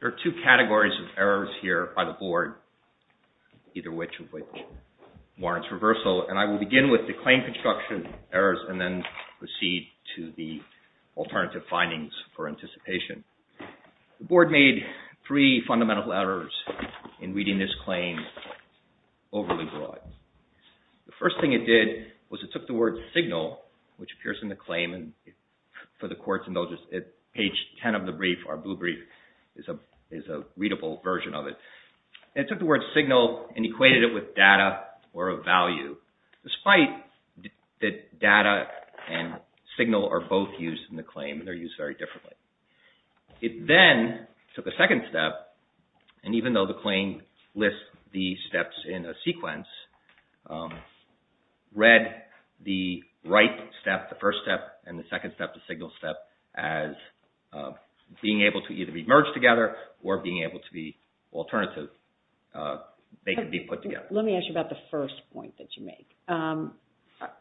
There are two categories of errors here by the Board, either which of which warrants reversal, and I will begin with the claim construction errors and then proceed to the alternative findings for anticipation. The Board made three fundamental errors in reading this claim overly broad. The first thing it did was it took the word signal, which appears in the claim and for the courts and those at page 10 of the brief, our blue brief, is a readable version of it. It took the word signal and equated it with data or a value, despite that data and signal are both used in the claim and they are used very differently. It then took a second step and even though the claim lists the steps in a sequence, read the right step, the first step, and the second step, the signal step, as being able to either be merged together or being able to be alternative, they could be put together. Let me ask you about the first point that you make.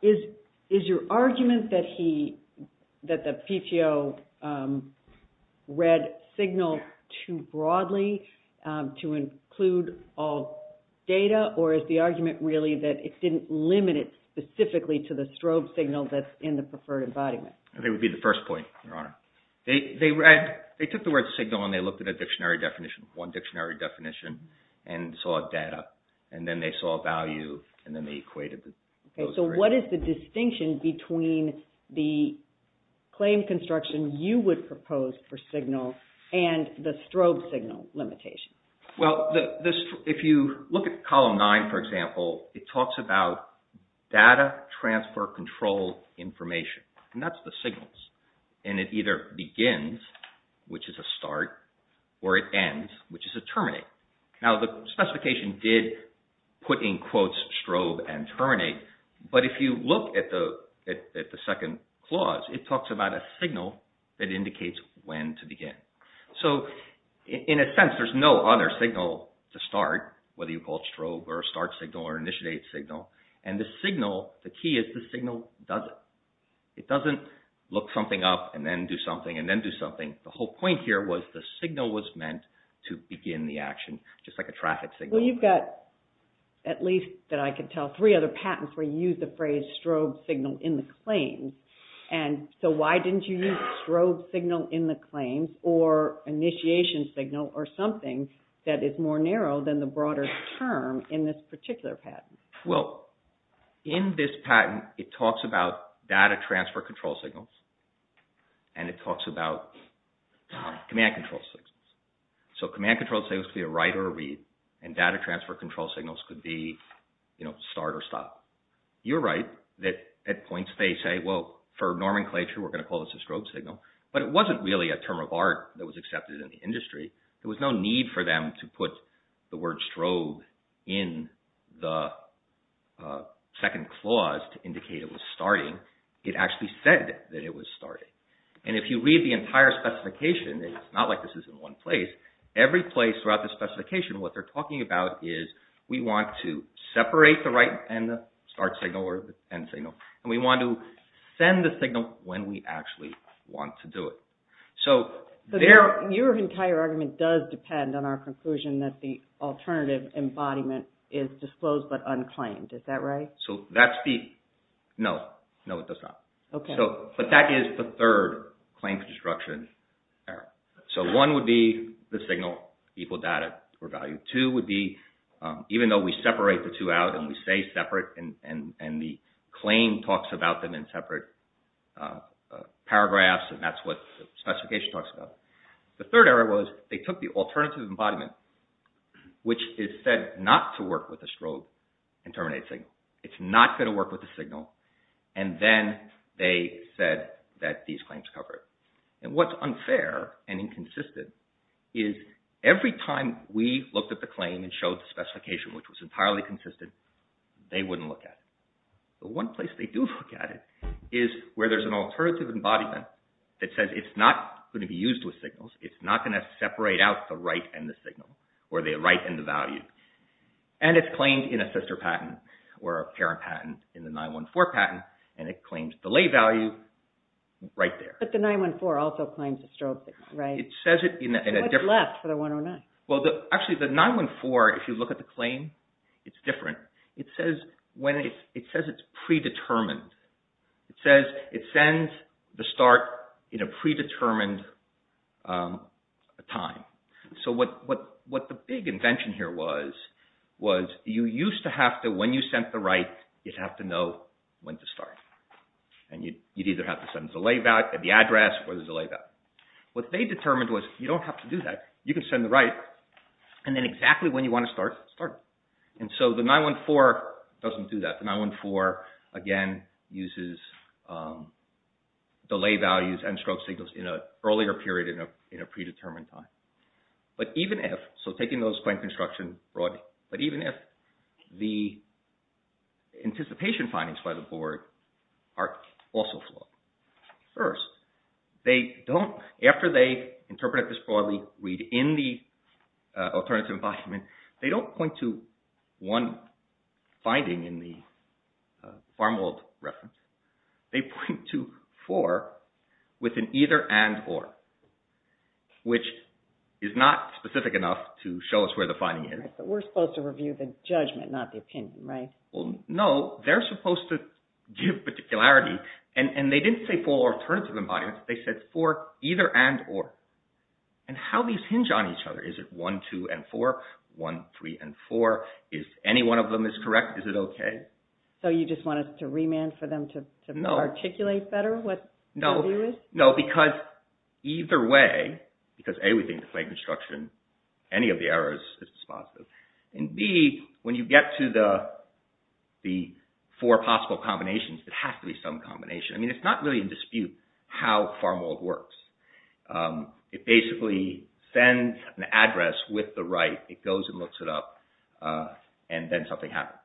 Is your argument that the PTO read signal too broadly to include all data or is the argument really that it didn't limit it specifically to the strobe signal that's in the preferred embodiment? It would be the first point, Your Honor. They took the word signal and they looked at a dictionary definition, one dictionary and they saw a value and then they equated it. Okay. So what is the distinction between the claim construction you would propose for signal and the strobe signal limitation? Well, if you look at column nine, for example, it talks about data transfer control information and that's the signals and it either begins, which is a start, or it ends, which is a terminate. Now the specification did put in quotes strobe and terminate, but if you look at the second clause, it talks about a signal that indicates when to begin. So in a sense, there's no other signal to start, whether you call it strobe or a start signal or an initiate signal, and the signal, the key is the signal doesn't. It doesn't look something up and then do something and then do something. The whole point here was the signal was meant to begin the action, just like a traffic signal. Well, you've got, at least that I can tell, three other patents where you use the phrase strobe signal in the claims, and so why didn't you use strobe signal in the claims or initiation signal or something that is more narrow than the broader term in this particular patent? Well, in this patent, it talks about data transfer control signals and it talks about command control signals. So command control signals could be a write or a read and data transfer control signals could be, you know, start or stop. You're right that at points they say, well, for nomenclature, we're going to call this a strobe signal, but it wasn't really a term of art that was accepted in the industry. There was no need for them to put the word strobe in the second clause to indicate it was starting. It actually said that it was starting. And if you read the entire specification, it's not like this is in one place. Every place throughout the specification, what they're talking about is we want to separate the write and the start signal or the end signal, and we want to send the signal when we actually want to do it. So your entire argument does depend on our conclusion that the alternative embodiment is disclosed but unclaimed. Is that right? So that's the... No. No, it does not. Okay. But that is the third claim construction error. So one would be the signal equal data or value. Two would be even though we separate the two out and we say separate and the claim talks about them in separate paragraphs and that's what the specification talks about. The third error was they took the alternative embodiment, which is said not to work with the strobe and terminate signal. It's not going to work with the signal, and then they said that these claims cover it. And what's unfair and inconsistent is every time we looked at the claim and showed the specification which was entirely consistent, they wouldn't look at it. The one place they do look at it is where there's an alternative embodiment that says it's not going to be used with signals. It's not going to separate out the right and the signal or the right and the value. And it's claimed in a sister patent or a parent patent in the 914 patent, and it claims the lay value right there. But the 914 also claims a strobe signal, right? It says it in a different... So what's left for the 109? Well, actually the 914, if you look at the claim, it's different. It says it's predetermined. It says it sends the start in a predetermined time. So what the big invention here was, was you used to have to, when you sent the right, you'd have to know when to start. And you'd either have to send the delay back at the address or the delay back. What they determined was you don't have to do that. You can send the right, and then exactly when you want to start, start it. And so the 914 doesn't do that. The 914, again, uses delay values and strobe signals in an earlier period in a predetermined time. But even if... So taking those claims construction broadly. But even if the anticipation findings by the board are also flawed, first, they don't... They don't point to one finding in the Farmworld reference. They point to four with an either and or, which is not specific enough to show us where the finding is. Right, but we're supposed to review the judgment, not the opinion, right? Well, no. They're supposed to give particularity. And they didn't say four alternative embodiments. They said four either and or. And how these hinge on each other. Is it one, two, and four? One, three, and four. If any one of them is correct, is it okay? So you just want us to remand for them to articulate better what W is? No, because either way, because A, we think the claim construction, any of the errors is positive. And B, when you get to the four possible combinations, it has to be some combination. I mean, it's not really in dispute how Farmworld works. It basically sends an address with the right, it goes and looks it up, and then something happens.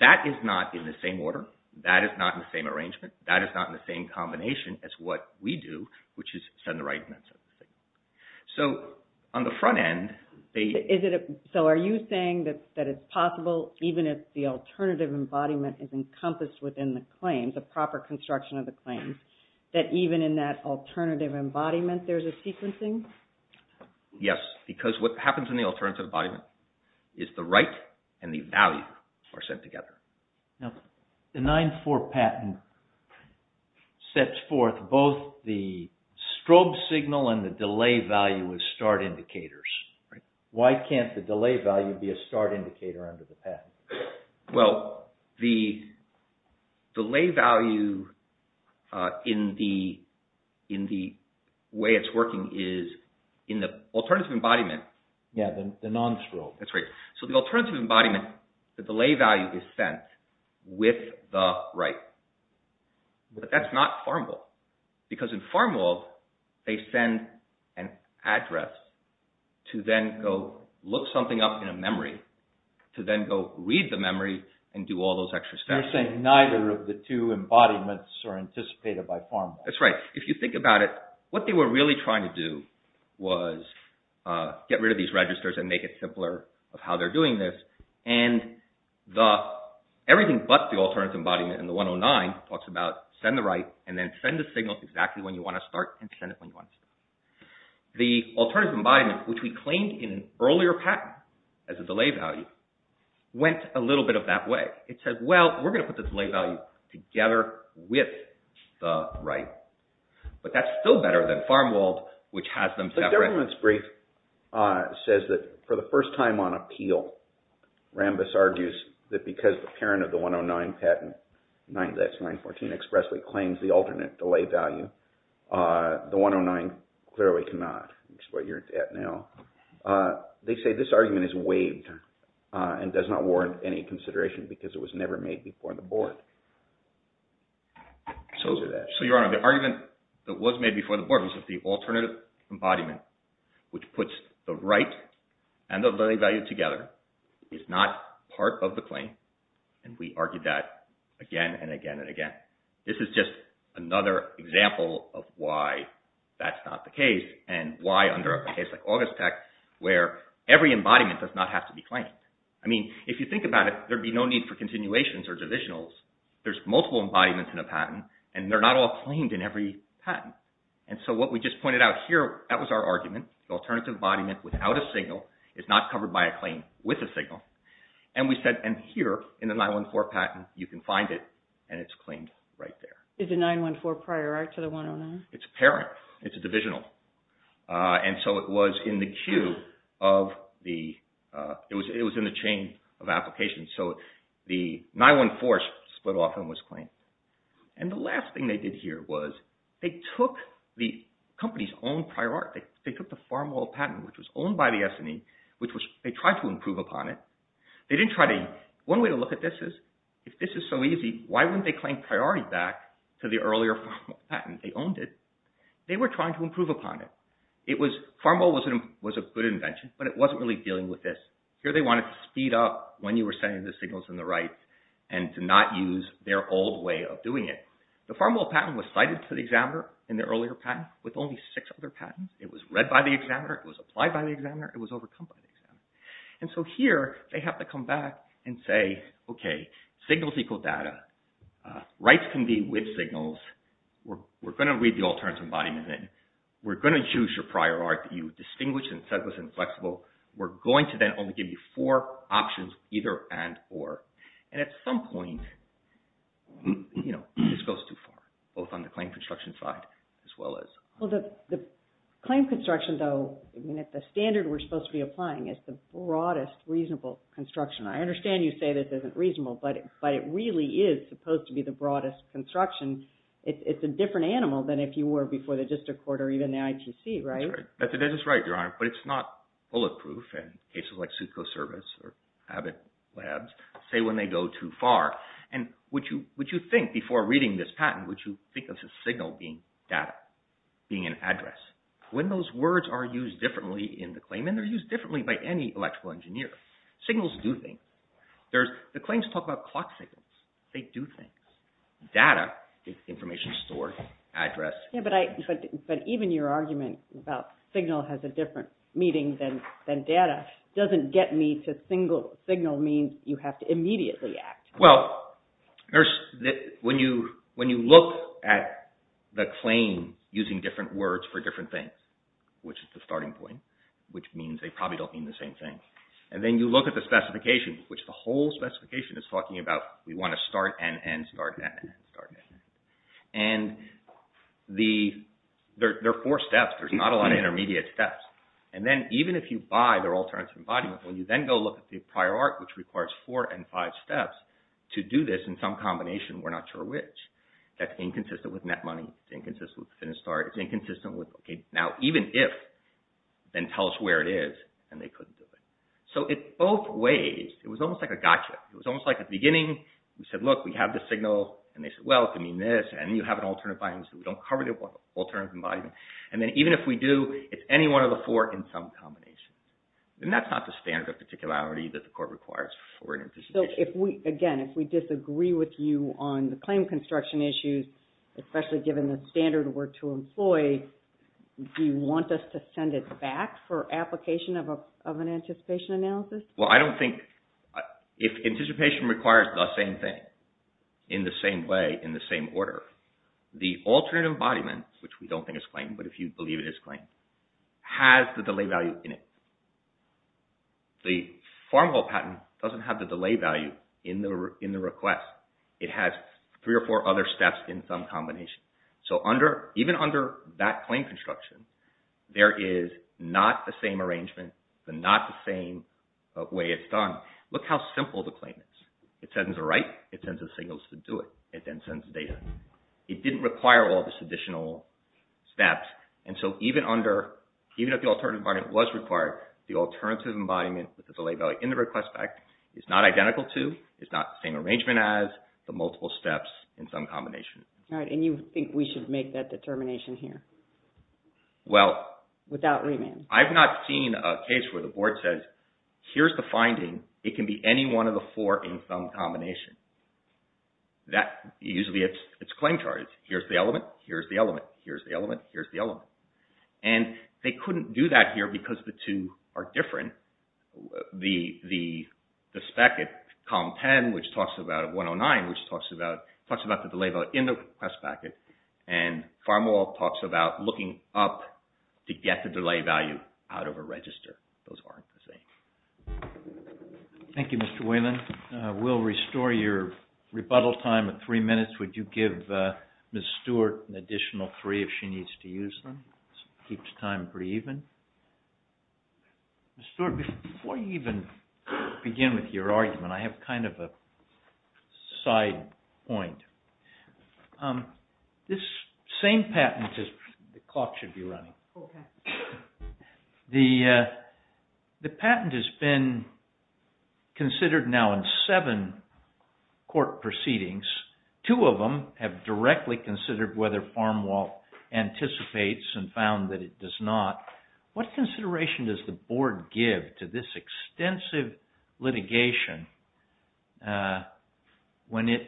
That is not in the same order. That is not in the same arrangement. That is not in the same combination as what we do, which is send the right and then send the same. So, on the front end, they – Is it – so are you saying that it's possible, even if the alternative embodiment is encompassed within the claim, the proper construction of the claim, that even in that alternative embodiment, there's a sequencing? Yes, because what happens in the alternative embodiment is the right and the value are sent together. Now, the 9-4 patent sets forth both the strobe signal and the delay value as start indicators. Why can't the delay value be a start indicator under the patent? Well, the delay value in the way it's working is in the alternative embodiment. Yeah, the non-strobe. That's right. So, the alternative embodiment, the delay value is sent with the right, but that's not Farmworld, because in Farmworld, they send an address to then go look something up in a memory to then go read the memory and do all those extra steps. You're saying neither of the two embodiments are anticipated by Farmworld. That's right. If you think about it, what they were really trying to do was get rid of these registers and make it simpler of how they're doing this, and the – everything but the alternative embodiment in the 109 talks about send the right and then send the signal exactly when you want to start and send it when you want to stop. The alternative embodiment, which we claimed in earlier patents as a delay value, went a little bit of that way. It said, well, we're going to put the delay value together with the right, but that's still better than Farmworld, which has them separate. The government's brief says that for the first time on appeal, Rambis argues that because the parent of the 109 patent, that's 914, expressly claims the alternate delay value, the 109 clearly cannot, which is what you're at now. They say this argument is waived and does not warrant any consideration because it was never made before the board. So is it that? So, Your Honor, the argument that was made before the board was that the alternative And we argued that again and again and again. This is just another example of why that's not the case and why under a case like Augustech where every embodiment does not have to be claimed. I mean, if you think about it, there'd be no need for continuations or divisionals. There's multiple embodiments in a patent, and they're not all claimed in every patent. And so what we just pointed out here, that was our argument, the alternative embodiment without a signal is not covered by a claim with a signal. And we said, and here in the 914 patent, you can find it, and it's claimed right there. Is the 914 prior right to the 109? It's a parent. It's a divisional. And so it was in the queue of the, it was in the chain of application. So the 914 split off and was claimed. And the last thing they did here was they took the company's own prior art, they took the FarmWall patent, which was owned by the S&E, which they tried to improve upon it. They didn't try to, one way to look at this is, if this is so easy, why wouldn't they claim priority back to the earlier FarmWall patent, they owned it. They were trying to improve upon it. It was, FarmWall was a good invention, but it wasn't really dealing with this. Here they wanted to speed up when you were sending the signals in the right and to not use their old way of doing it. The FarmWall patent was cited to the examiner in the earlier patent with only six other patents. It was read by the examiner, it was applied by the examiner, it was overcome by the examiner. And so here, they have to come back and say, okay, signals equal data, rights can be with signals, we're going to read the alternative embodiment in, we're going to choose your prior art that you distinguish and said was inflexible, we're going to then only give you four options, either and or, and at some point, you know, this goes too far, both on the claim construction side as well as… Well, the claim construction, though, I mean, it's a standard we're supposed to be applying. It's the broadest reasonable construction. I understand you say that this isn't reasonable, but it really is supposed to be the broadest construction. It's a different animal than if you were before the district court or even the ITC, right? That's right, Your Honor, but it's not bulletproof and cases like Sukho Service or Abbott Labs say when they go too far. And would you think before reading this patent, would you think of the signal being data? Being an address? When those words are used differently in the claim and they're used differently by any electrical engineer, signals do things. The claims talk about clock signals, they do things. Data is information stored, address. Yeah, but even your argument about signal has a different meaning than data doesn't get me to signal means you have to immediately act. Well, when you look at the claim using different words for different things, which is the starting point, which means they probably don't mean the same thing, and then you look at the specification, which the whole specification is talking about, we want to start and end, start and end, start and end. And there are four steps, there's not a lot of intermediate steps. And then even if you buy their alternative embodiment, when you then go look at the prior art, which requires four and five steps to do this in some combination, we're not sure which. That's inconsistent with net money, it's inconsistent with the finish start, it's inconsistent with okay, now even if, then tell us where it is, and they couldn't do it. So in both ways, it was almost like a gotcha, it was almost like at the beginning, we said look, we have the signal, and they said, well, it could mean this, and you have an alternative embodiment, so we don't cover the alternative embodiment. And then even if we do, it's any one of the four in some combination. And that's not the standard of particularity that the court requires for an anticipation. So if we, again, if we disagree with you on the claim construction issues, especially given the standard we're to employ, do you want us to send it back for application of an anticipation analysis? Well, I don't think, if anticipation requires the same thing, in the same way, in the same order, the alternative embodiment, which we don't think is claimed, but if you believe it is claimed, has the delay value in it. The formal patent doesn't have the delay value in the request. It has three or four other steps in some combination. So under, even under that claim construction, there is not the same arrangement, not the same way it's done. Look how simple the claim is. It sends a write, it sends a signal to do it, it then sends data. It didn't require all these additional steps. And so even under, even if the alternative embodiment was required, the alternative embodiment with the delay value in the request back is not identical to, it's not the same arrangement as, the multiple steps in some combination. All right. And you think we should make that determination here without remand? I've not seen a case where the board says, here's the finding. It can be any one of the four in some combination. That, usually it's, it's claim charges. Here's the element. Here's the element. Here's the element. Here's the element. And they couldn't do that here because the two are different. The, the, the spec at column 10, which talks about 109, which talks about, talks about the delay value in the request packet. And Farmwall talks about looking up to get the delay value out of a register. Those aren't the same. Thank you, Mr. Whalen. We'll restore your rebuttal time at three minutes. Would you give Ms. Stewart an additional three if she needs to use them? Keeps time pretty even. Ms. Stewart, before you even begin with your argument, I have kind of a side point. This same patent is, the clock should be running. Okay. The, the patent has been considered now in seven court proceedings. Two of them have directly considered whether Farmwall anticipates and found that it does not. What consideration does the board give to this extensive litigation when it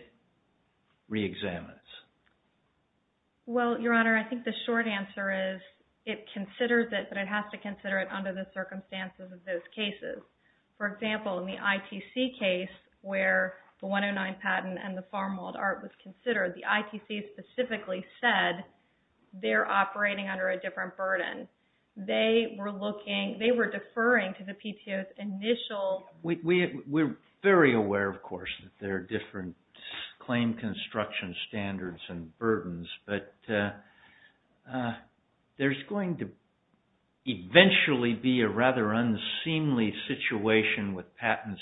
re-examines? Well, Your Honor, I think the short answer is it considers it, but it has to consider it under the circumstances of those cases. For example, in the ITC case where the 109 patent and the Farmwalled Art was considered, the ITC specifically said they're operating under a different burden. They were looking, they were deferring to the PTO's initial... We're very aware, of course, that there are different claim construction standards and burdens, but there's going to eventually be a rather unseemly situation with patents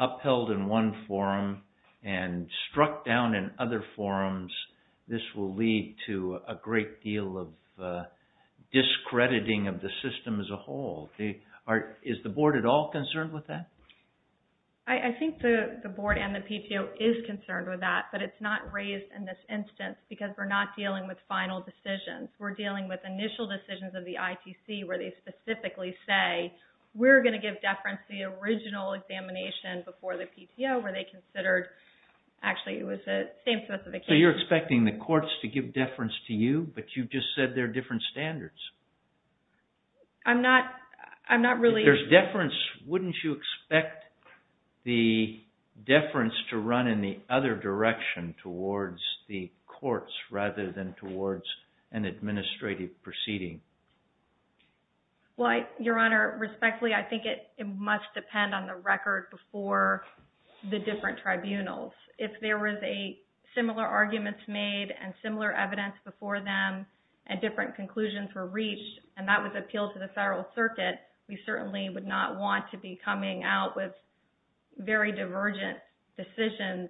upheld in one forum and struck down in other forums. This will lead to a great deal of discrediting of the system as a whole. Is the board at all concerned with that? I think the board and the PTO is concerned with that, but it's not raised in this instance because we're not dealing with final decisions. We're dealing with initial decisions of the ITC where they specifically say, we're going to give deference to the original examination before the PTO where they considered... Actually, it was the same specification. So you're expecting the courts to give deference to you, but you just said there are different standards. I'm not really... If there's deference, wouldn't you expect the deference to run in the other direction towards the courts rather than towards an administrative proceeding? Your Honor, respectfully, I think it must depend on the record before the different tribunals. If there was similar arguments made and similar evidence before them and different conclusions were reached, and that was appealed to the federal circuit, we certainly would not want to be coming out with very divergent decisions.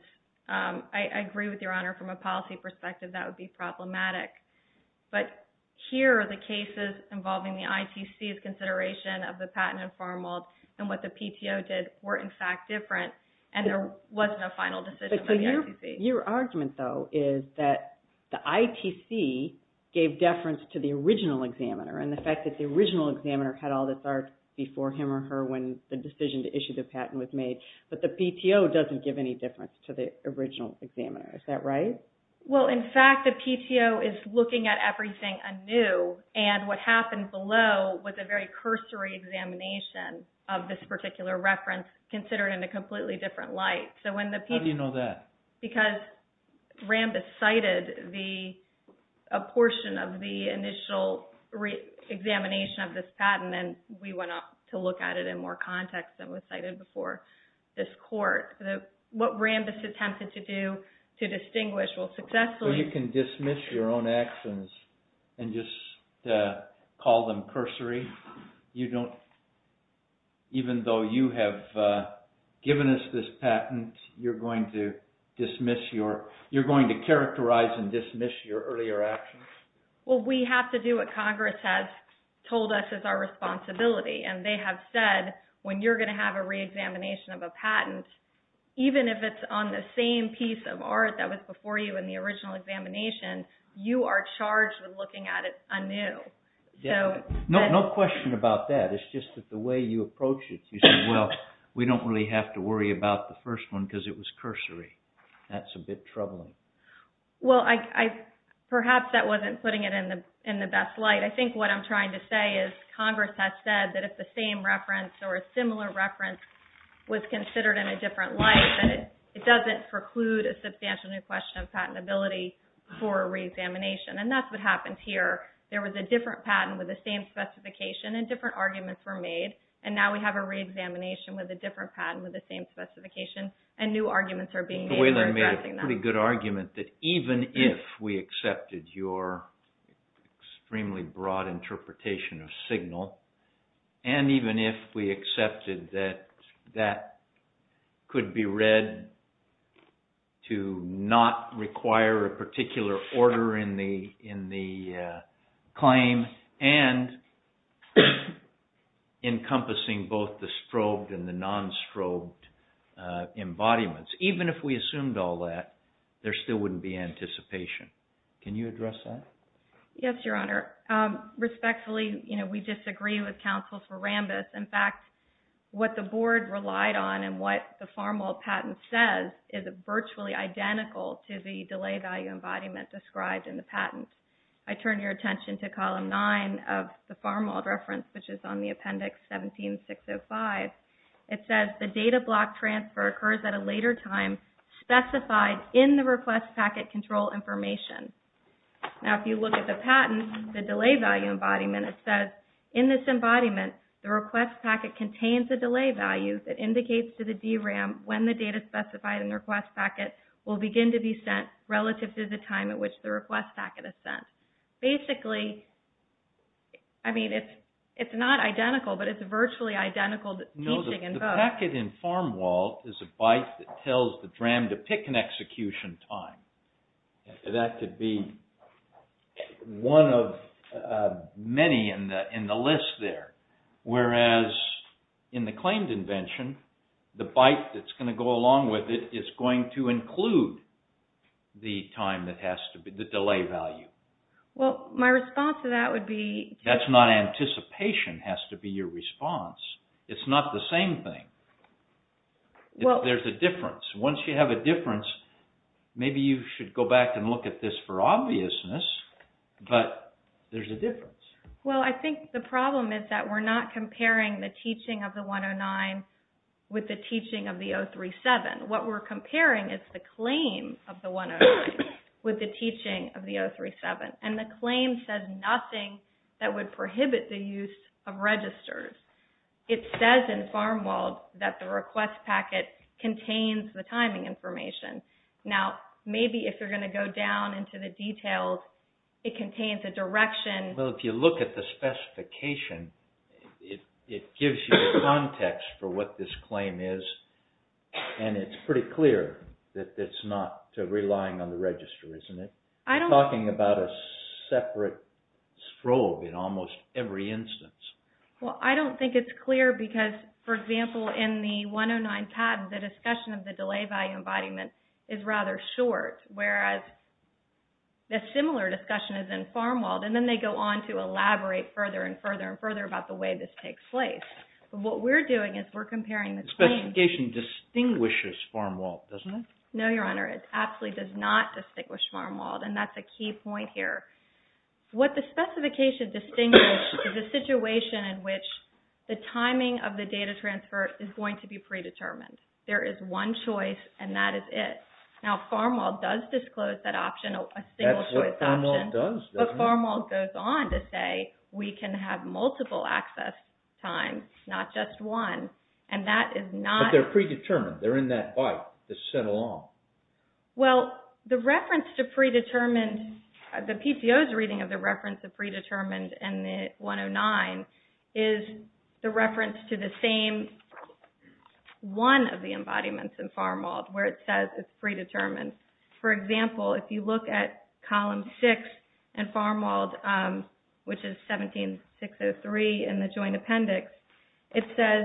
I agree with Your Honor. From a policy perspective, that would be problematic. But here, the cases involving the ITC's consideration of the patent informal and what the PTO did were, in fact, different, and there was no final decision by the ITC. Your argument, though, is that the ITC gave deference to the original examiner and the fact that the original examiner had all this art before him or her when the decision to issue the patent was made, but the PTO doesn't give any deference to the original examiner. Is that right? Well, in fact, the PTO is looking at everything anew, and what happened below was a very cursory examination of this particular reference considered in a completely different light. How do you know that? Because Rambis cited a portion of the initial examination of this patent, and we went out to look at it in more context than was cited before this court. What Rambis attempted to do to distinguish, well, successfully— So you can dismiss your own actions and just call them cursory? Even though you have given us this patent, you're going to characterize and dismiss your earlier actions? Well, we have to do what Congress has told us is our responsibility, and they have said when you're going to have a reexamination of a patent, even if it's on the same piece of art that was before you in the original examination, you are charged with looking at it anew. No question about that. It's just that the way you approach it, you say, well, we don't really have to worry about the first one because it was cursory. That's a bit troubling. Well, perhaps that wasn't putting it in the best light. I think what I'm trying to say is Congress has said that if the same reference or a similar reference was considered in a different light, that it doesn't preclude a substantial new question of patentability for reexamination, and that's what happened here. There was a different patent with the same specification, and different arguments were made, and now we have a reexamination with a different patent with the same specification, and new arguments are being made for addressing that. The way they made a pretty good argument, that even if we accepted your extremely broad interpretation of Signal, and even if we accepted that that could be read to not require a particular order in the claim and encompassing both the strobed and the non-strobed embodiments, even if we assumed all that, there still wouldn't be anticipation. Can you address that? Yes, Your Honor. Respectfully, we disagree with counsel for Rambis. In fact, what the board relied on and what the Farmwell patent says is virtually identical to the delay value embodiment described in the patent. I turn your attention to Column 9 of the Farmwell reference, which is on the Appendix 17-605. It says the data block transfer occurs at a later time, specified in the request packet control information. Now, if you look at the patent, the delay value embodiment, it says, in this embodiment, the request packet contains a delay value that indicates to the DRAM when the data specified in the request packet will begin to be sent relative to the time at which the request packet is sent. Basically, I mean, it's not identical, but it's virtually identical. The packet in Farmwell is a byte that tells the DRAM to pick an execution time. That could be one of many in the list there. Whereas, in the claimed invention, the byte that's going to go along with it is going to include the delay value. Well, my response to that would be... That's not anticipation, it has to be your response. It's not the same thing. There's a difference. Once you have a difference, maybe you should go back and look at this for obviousness, but there's a difference. Well, I think the problem is that we're not comparing the teaching of the 109 with the teaching of the 037. What we're comparing is the claim of the 109 with the teaching of the 037, and the claim says nothing that would prohibit the use of registers. It says in Farmwell that the request packet contains the timing information. Now, maybe if you're going to go down into the details, it contains a direction. Well, if you look at the specification, it gives you the context for what this claim is, and it's pretty clear that it's not relying on the register, isn't it? You're talking about a separate strobe in almost every instance. Well, I don't think it's clear because, for example, in the 109 patent, the discussion of the delay value embodiment is rather short, whereas a similar discussion is in Farmwalled, and then they go on to elaborate further and further and further about the way this takes place. But what we're doing is we're comparing the claims. The specification distinguishes Farmwalled, doesn't it? No, Your Honor. It absolutely does not distinguish Farmwalled, and that's a key point here. What the specification distinguishes is a situation in which the timing of the data transfer is going to be predetermined. There is one choice, and that is it. Now, Farmwalled does disclose that option, a single-choice option. That's what Farmwalled does, doesn't it? But Farmwalled goes on to say we can have multiple access times, not just one, and that is not— But they're predetermined. They're in that byte that's sent along. Well, the reference to predetermined—the PCO's reading of the reference to predetermined in the 109 is the reference to the same one of the embodiments in Farmwalled where it says it's predetermined. For example, if you look at column 6 in Farmwalled, which is 17603 in the Joint Appendix, it says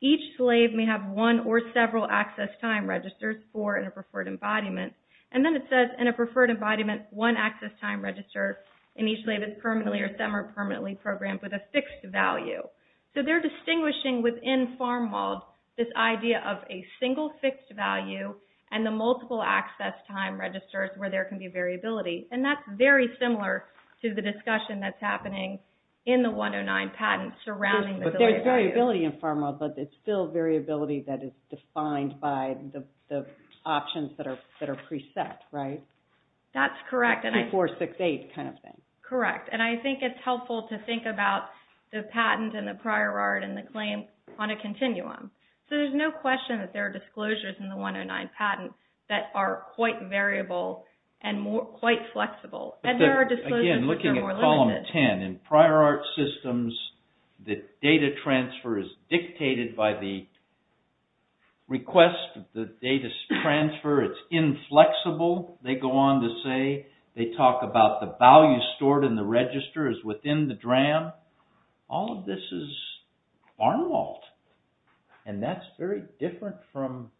each slave may have one or several access time registers, four in a preferred embodiment. And then it says in a preferred embodiment, one access time register in each slave is permanently or semi-permanently programmed with a fixed value. So they're distinguishing within Farmwalled this idea of a single fixed value and the multiple access time registers where there can be variability. And that's very similar to the discussion that's happening in the 109 patent surrounding the— But there's variability in Farmwalled, but it's still variability that is defined by the options that are preset, right? That's correct. 2468 kind of thing. Correct, and I think it's helpful to think about the patent and the prior art and the claim on a continuum. So there's no question that there are disclosures in the 109 patent that are quite variable and quite flexible. And there are disclosures that are more limited. Again, looking at column 10, in prior art systems, the data transfer is dictated by the request, the data transfer, it's inflexible, they go on to say. They talk about the value stored in the register is within the DRAM. All of this is Farmwalled, and that's very different from—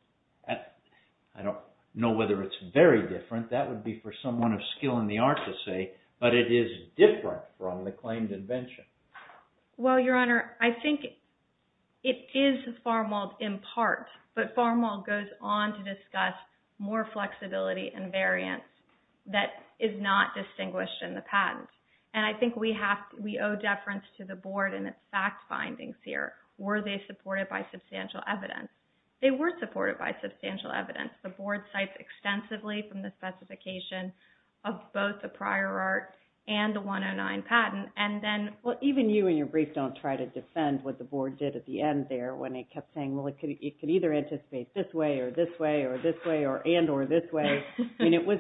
I don't know whether it's very different, that would be for someone of skill in the art to say, but it is different from the claimed invention. Well, Your Honor, I think it is Farmwalled in part, but Farmwalled goes on to discuss more flexibility and variance that is not distinguished in the patent. And I think we owe deference to the Board in its fact findings here. Were they supported by substantial evidence? They were supported by substantial evidence. The Board cites extensively from the specification of both the prior art and the 109 patent, and then— Well, even you in your brief don't try to defend what the Board did at the end there when it kept saying, well, it could either anticipate this way or this way or this way and or this way. I mean, it was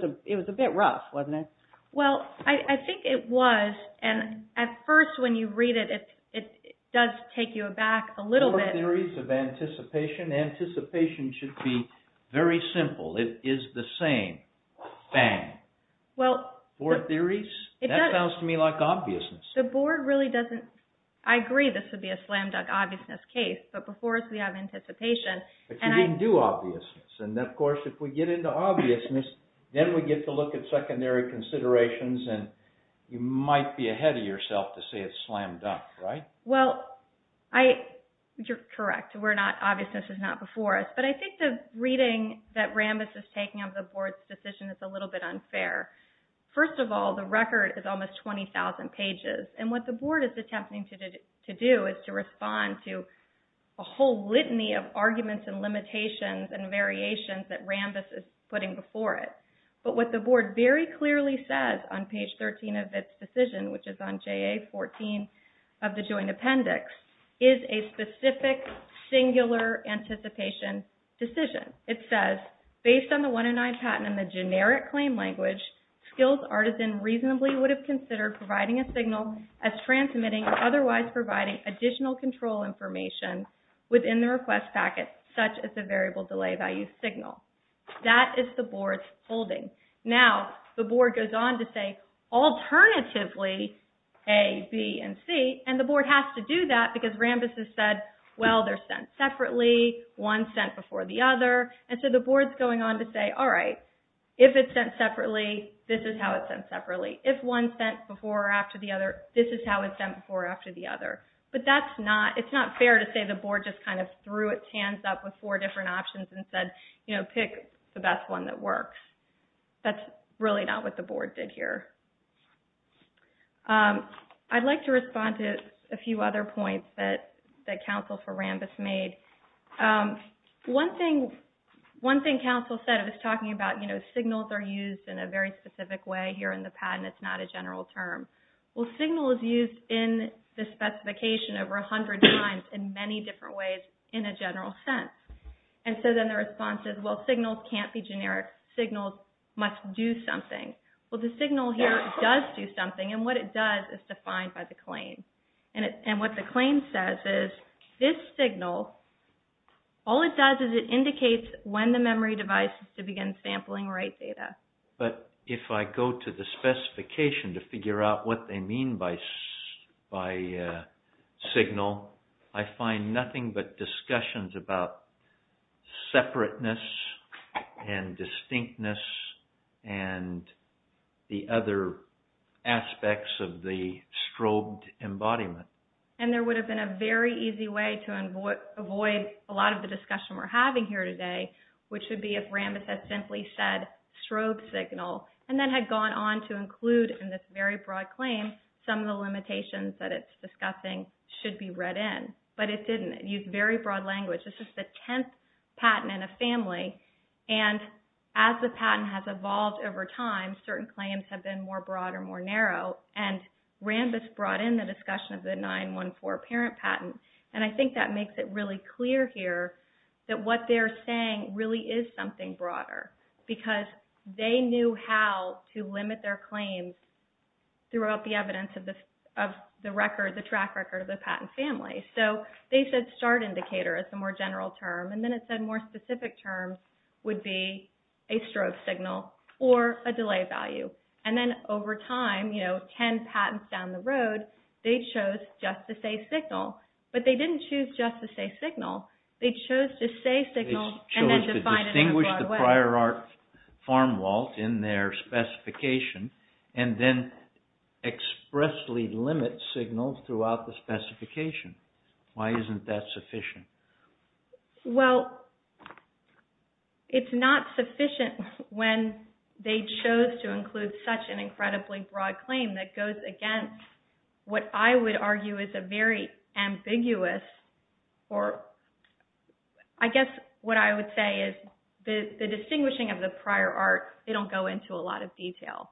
a bit rough, wasn't it? Well, I think it was, and at first when you read it, it does take you back a little bit. Four theories of anticipation. Anticipation should be very simple. It is the same. Bang. Four theories? That sounds to me like obviousness. The Board really doesn't—I agree this would be a slam-dunk obviousness case, but before us we have anticipation, and I— But you didn't do obviousness. And, of course, if we get into obviousness, then we get to look at secondary considerations, and you might be ahead of yourself to say it's slam-dunk, right? Well, I—you're correct. We're not—obviousness is not before us. But I think the reading that Rambis is taking of the Board's decision is a little bit unfair. First of all, the record is almost 20,000 pages, and what the Board is attempting to do is to respond to a whole litany of arguments and limitations and variations that Rambis is putting before it. But what the Board very clearly says on page 13 of its decision, which is on JA-14 of the Joint Appendix, is a specific singular anticipation decision. It says, based on the 109 patent and the generic claim language, skills artisan reasonably would have considered providing a signal as transmitting or otherwise providing additional control information within the request packet, such as a variable delay value signal. That is the Board's holding. Now, the Board goes on to say, alternatively, A, B, and C, and the Board has to do that because Rambis has said, well, they're sent separately, one sent before the other, and so the Board's going on to say, all right, if it's sent separately, this is how it's sent separately. If one's sent before or after the other, this is how it's sent before or after the other. But it's not fair to say the Board just kind of threw its hands up with four different options and said, you know, pick the best one that works. That's really not what the Board did here. I'd like to respond to a few other points that counsel for Rambis made. One thing counsel said, I was talking about, you know, signals are used in a very specific way here in the patent. It's not a general term. Well, signal is used in the specification over 100 times in many different ways in a general sense. And so then the response is, well, signals can't be generic. Signals must do something. Well, the signal here does do something, and what it does is defined by the claim. And what the claim says is this signal, all it does is it indicates when the memory device is to begin sampling right data. But if I go to the specification to figure out what they mean by signal, I find nothing but discussions about separateness and distinctness and the other aspects of the strobed embodiment. And there would have been a very easy way to avoid a lot of the discussion we're having here today, which would be if Rambis had simply said strobe signal and then had gone on to include in this very broad claim some of the limitations that it's discussing should be read in. But it didn't. It used very broad language. This is the 10th patent in a family, and as the patent has evolved over time, certain claims have been more broad or more narrow. And Rambis brought in the discussion of the 914 parent patent, and I think that makes it really clear here that what they're saying really is something broader because they knew how to limit their claims throughout the evidence of the track record of the patent family. So they said start indicator is the more general term, and then it said more specific terms would be a strobe signal or a delay value. And then over time, you know, 10 patents down the road, they chose just to say signal. But they didn't choose just to say signal. They chose to say signal and then define it in a broad way. Why isn't that sufficient? Well, it's not sufficient when they chose to include such an incredibly broad claim that goes against what I would argue is a very ambiguous, or I guess what I would say is the distinguishing of the prior art, they don't go into a lot of detail.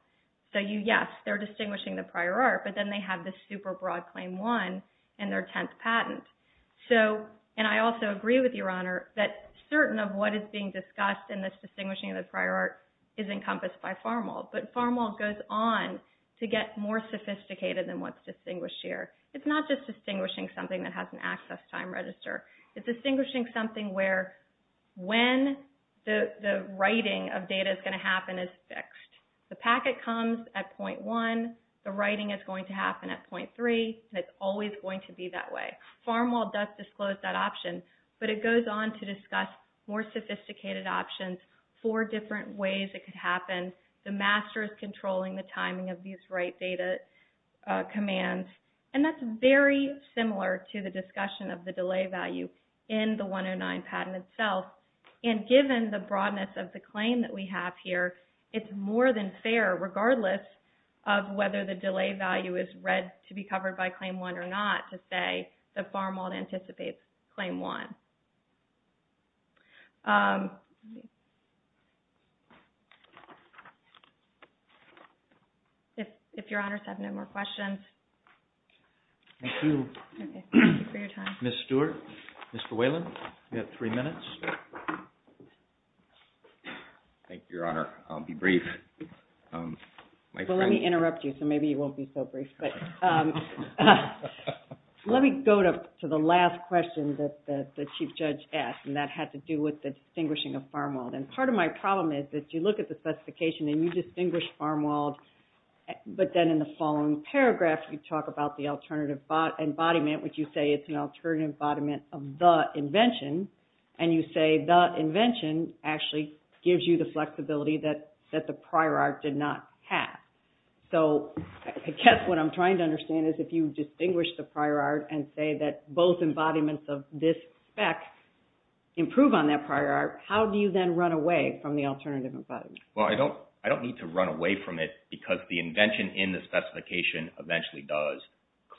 So yes, they're distinguishing the prior art, but then they have this super broad claim one in their 10th patent. So, and I also agree with Your Honor, that certain of what is being discussed in this distinguishing of the prior art is encompassed by Farmold. But Farmold goes on to get more sophisticated than what's distinguished here. It's not just distinguishing something that has an access time register. It's distinguishing something where when the writing of data is going to happen is fixed. The packet comes at point one, the writing is going to happen at point three, and it's always going to be that way. Farmold does disclose that option, but it goes on to discuss more sophisticated options, four different ways it could happen. The master is controlling the timing of these write data commands. And that's very similar to the discussion of the delay value in the 109 patent itself. And given the broadness of the claim that we have here, it's more than fair, regardless of whether the delay value is read to be covered by claim one or not, to say that Farmold anticipates claim one. If Your Honors have no more questions. Thank you. Thank you for your time. Ms. Stewart, Mr. Whalen, you have three minutes. Thank you, Your Honor. I'll be brief. Well, let me interrupt you, so maybe you won't be so brief. But let me go to the last question that the Chief Justice asked. And that had to do with the distinguishing of Farmold. And part of my problem is that you look at the specification and you distinguish Farmold, but then in the following paragraph you talk about the alternative embodiment, which you say it's an alternative embodiment of the invention, and you say the invention actually gives you the flexibility that the prior art did not have. So I guess what I'm trying to understand is if you distinguish the prior art and say that both embodiments of this spec improve on that prior art, how do you then run away from the alternative embodiment? Well, I don't need to run away from it because the invention in the specification eventually does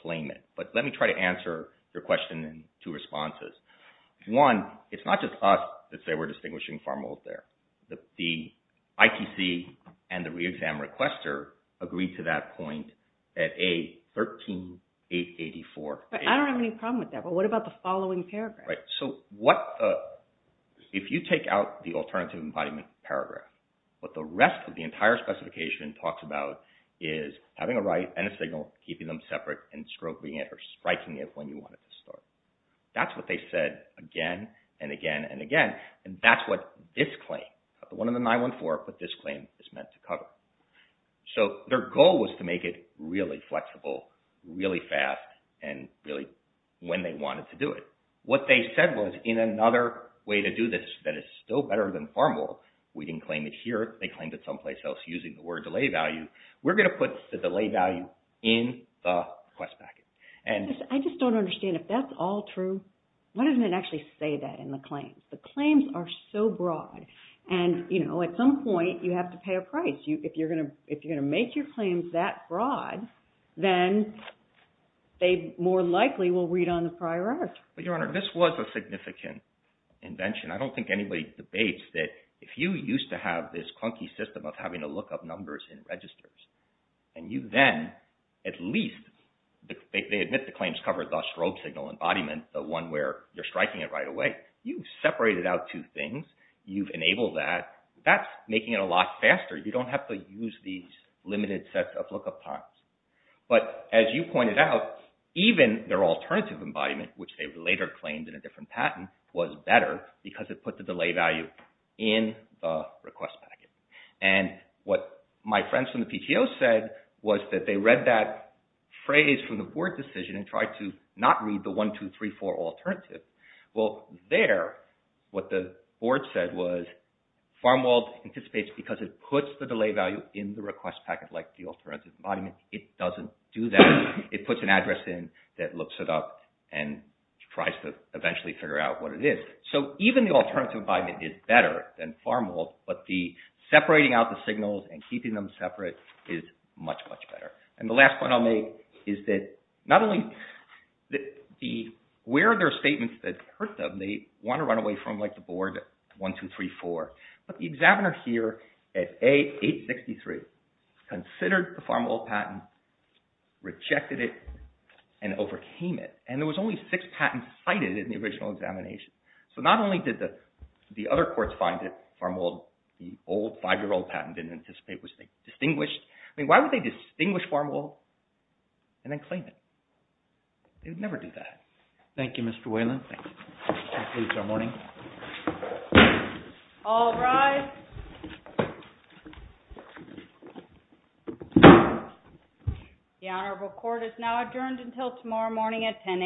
claim it. But let me try to answer your question in two responses. One, it's not just us that say we're distinguishing Farmold there. The ITC and the re-exam requester agreed to that point at A13884. I don't have any problem with that, but what about the following paragraph? So if you take out the alternative embodiment paragraph, what the rest of the entire specification talks about is having a right and a signal, keeping them separate, and stroking it or striking it when you want it to start. That's what they said again and again and again. And that's what this claim, the one on the 914, what this claim is meant to cover. So their goal was to make it really flexible, really fast, and really when they wanted to do it. What they said was in another way to do this that is still better than Farmold, we didn't claim it here, they claimed it someplace else using the word delay value, we're going to put the delay value in the request packet. I just don't understand. If that's all true, why doesn't it actually say that in the claim? The claims are so broad, and at some point you have to pay a price. If you're going to make your claims that broad, then they more likely will read on the prior art. Your Honor, this was a significant invention. I don't think anybody debates that if you used to have this clunky system of having to look up numbers in registers, and you then at least, they admit the claims cover the strobe signal embodiment, the one where you're striking it right away. You've separated out two things, you've enabled that, that's making it a lot faster. You don't have to use these limited sets of look up times. But as you pointed out, even their alternative embodiment, which they later claimed in a different patent, was better because it put the delay value in the request packet. And what my friends from the PTO said was that they read that phrase from the board decision and tried to not read the one, two, three, four alternative. Well, there, what the board said was Farmwold anticipates because it puts the delay value in the request packet like the alternative embodiment, it doesn't do that. It puts an address in that looks it up and tries to eventually figure out what it is. So even the alternative embodiment is better than Farmwold, but the separating out the signals and keeping them separate is much, much better. And the last point I'll make is that not only where are their statements that hurt them, they want to run away from like the board at one, two, three, four. But the examiner here at A863 considered the Farmwold patent, rejected it, and overcame it. And there was only six patents cited in the original examination. So not only did the other courts find it, Farmwold, the old five-year-old patent didn't anticipate, it was distinguished. I mean, why would they distinguish Farmwold and then claim it? They would never do that. Thank you, Mr. Whelan. Thank you. We'll close our morning. All rise. The Honorable Court is now adjourned until tomorrow morning at 10 a.m.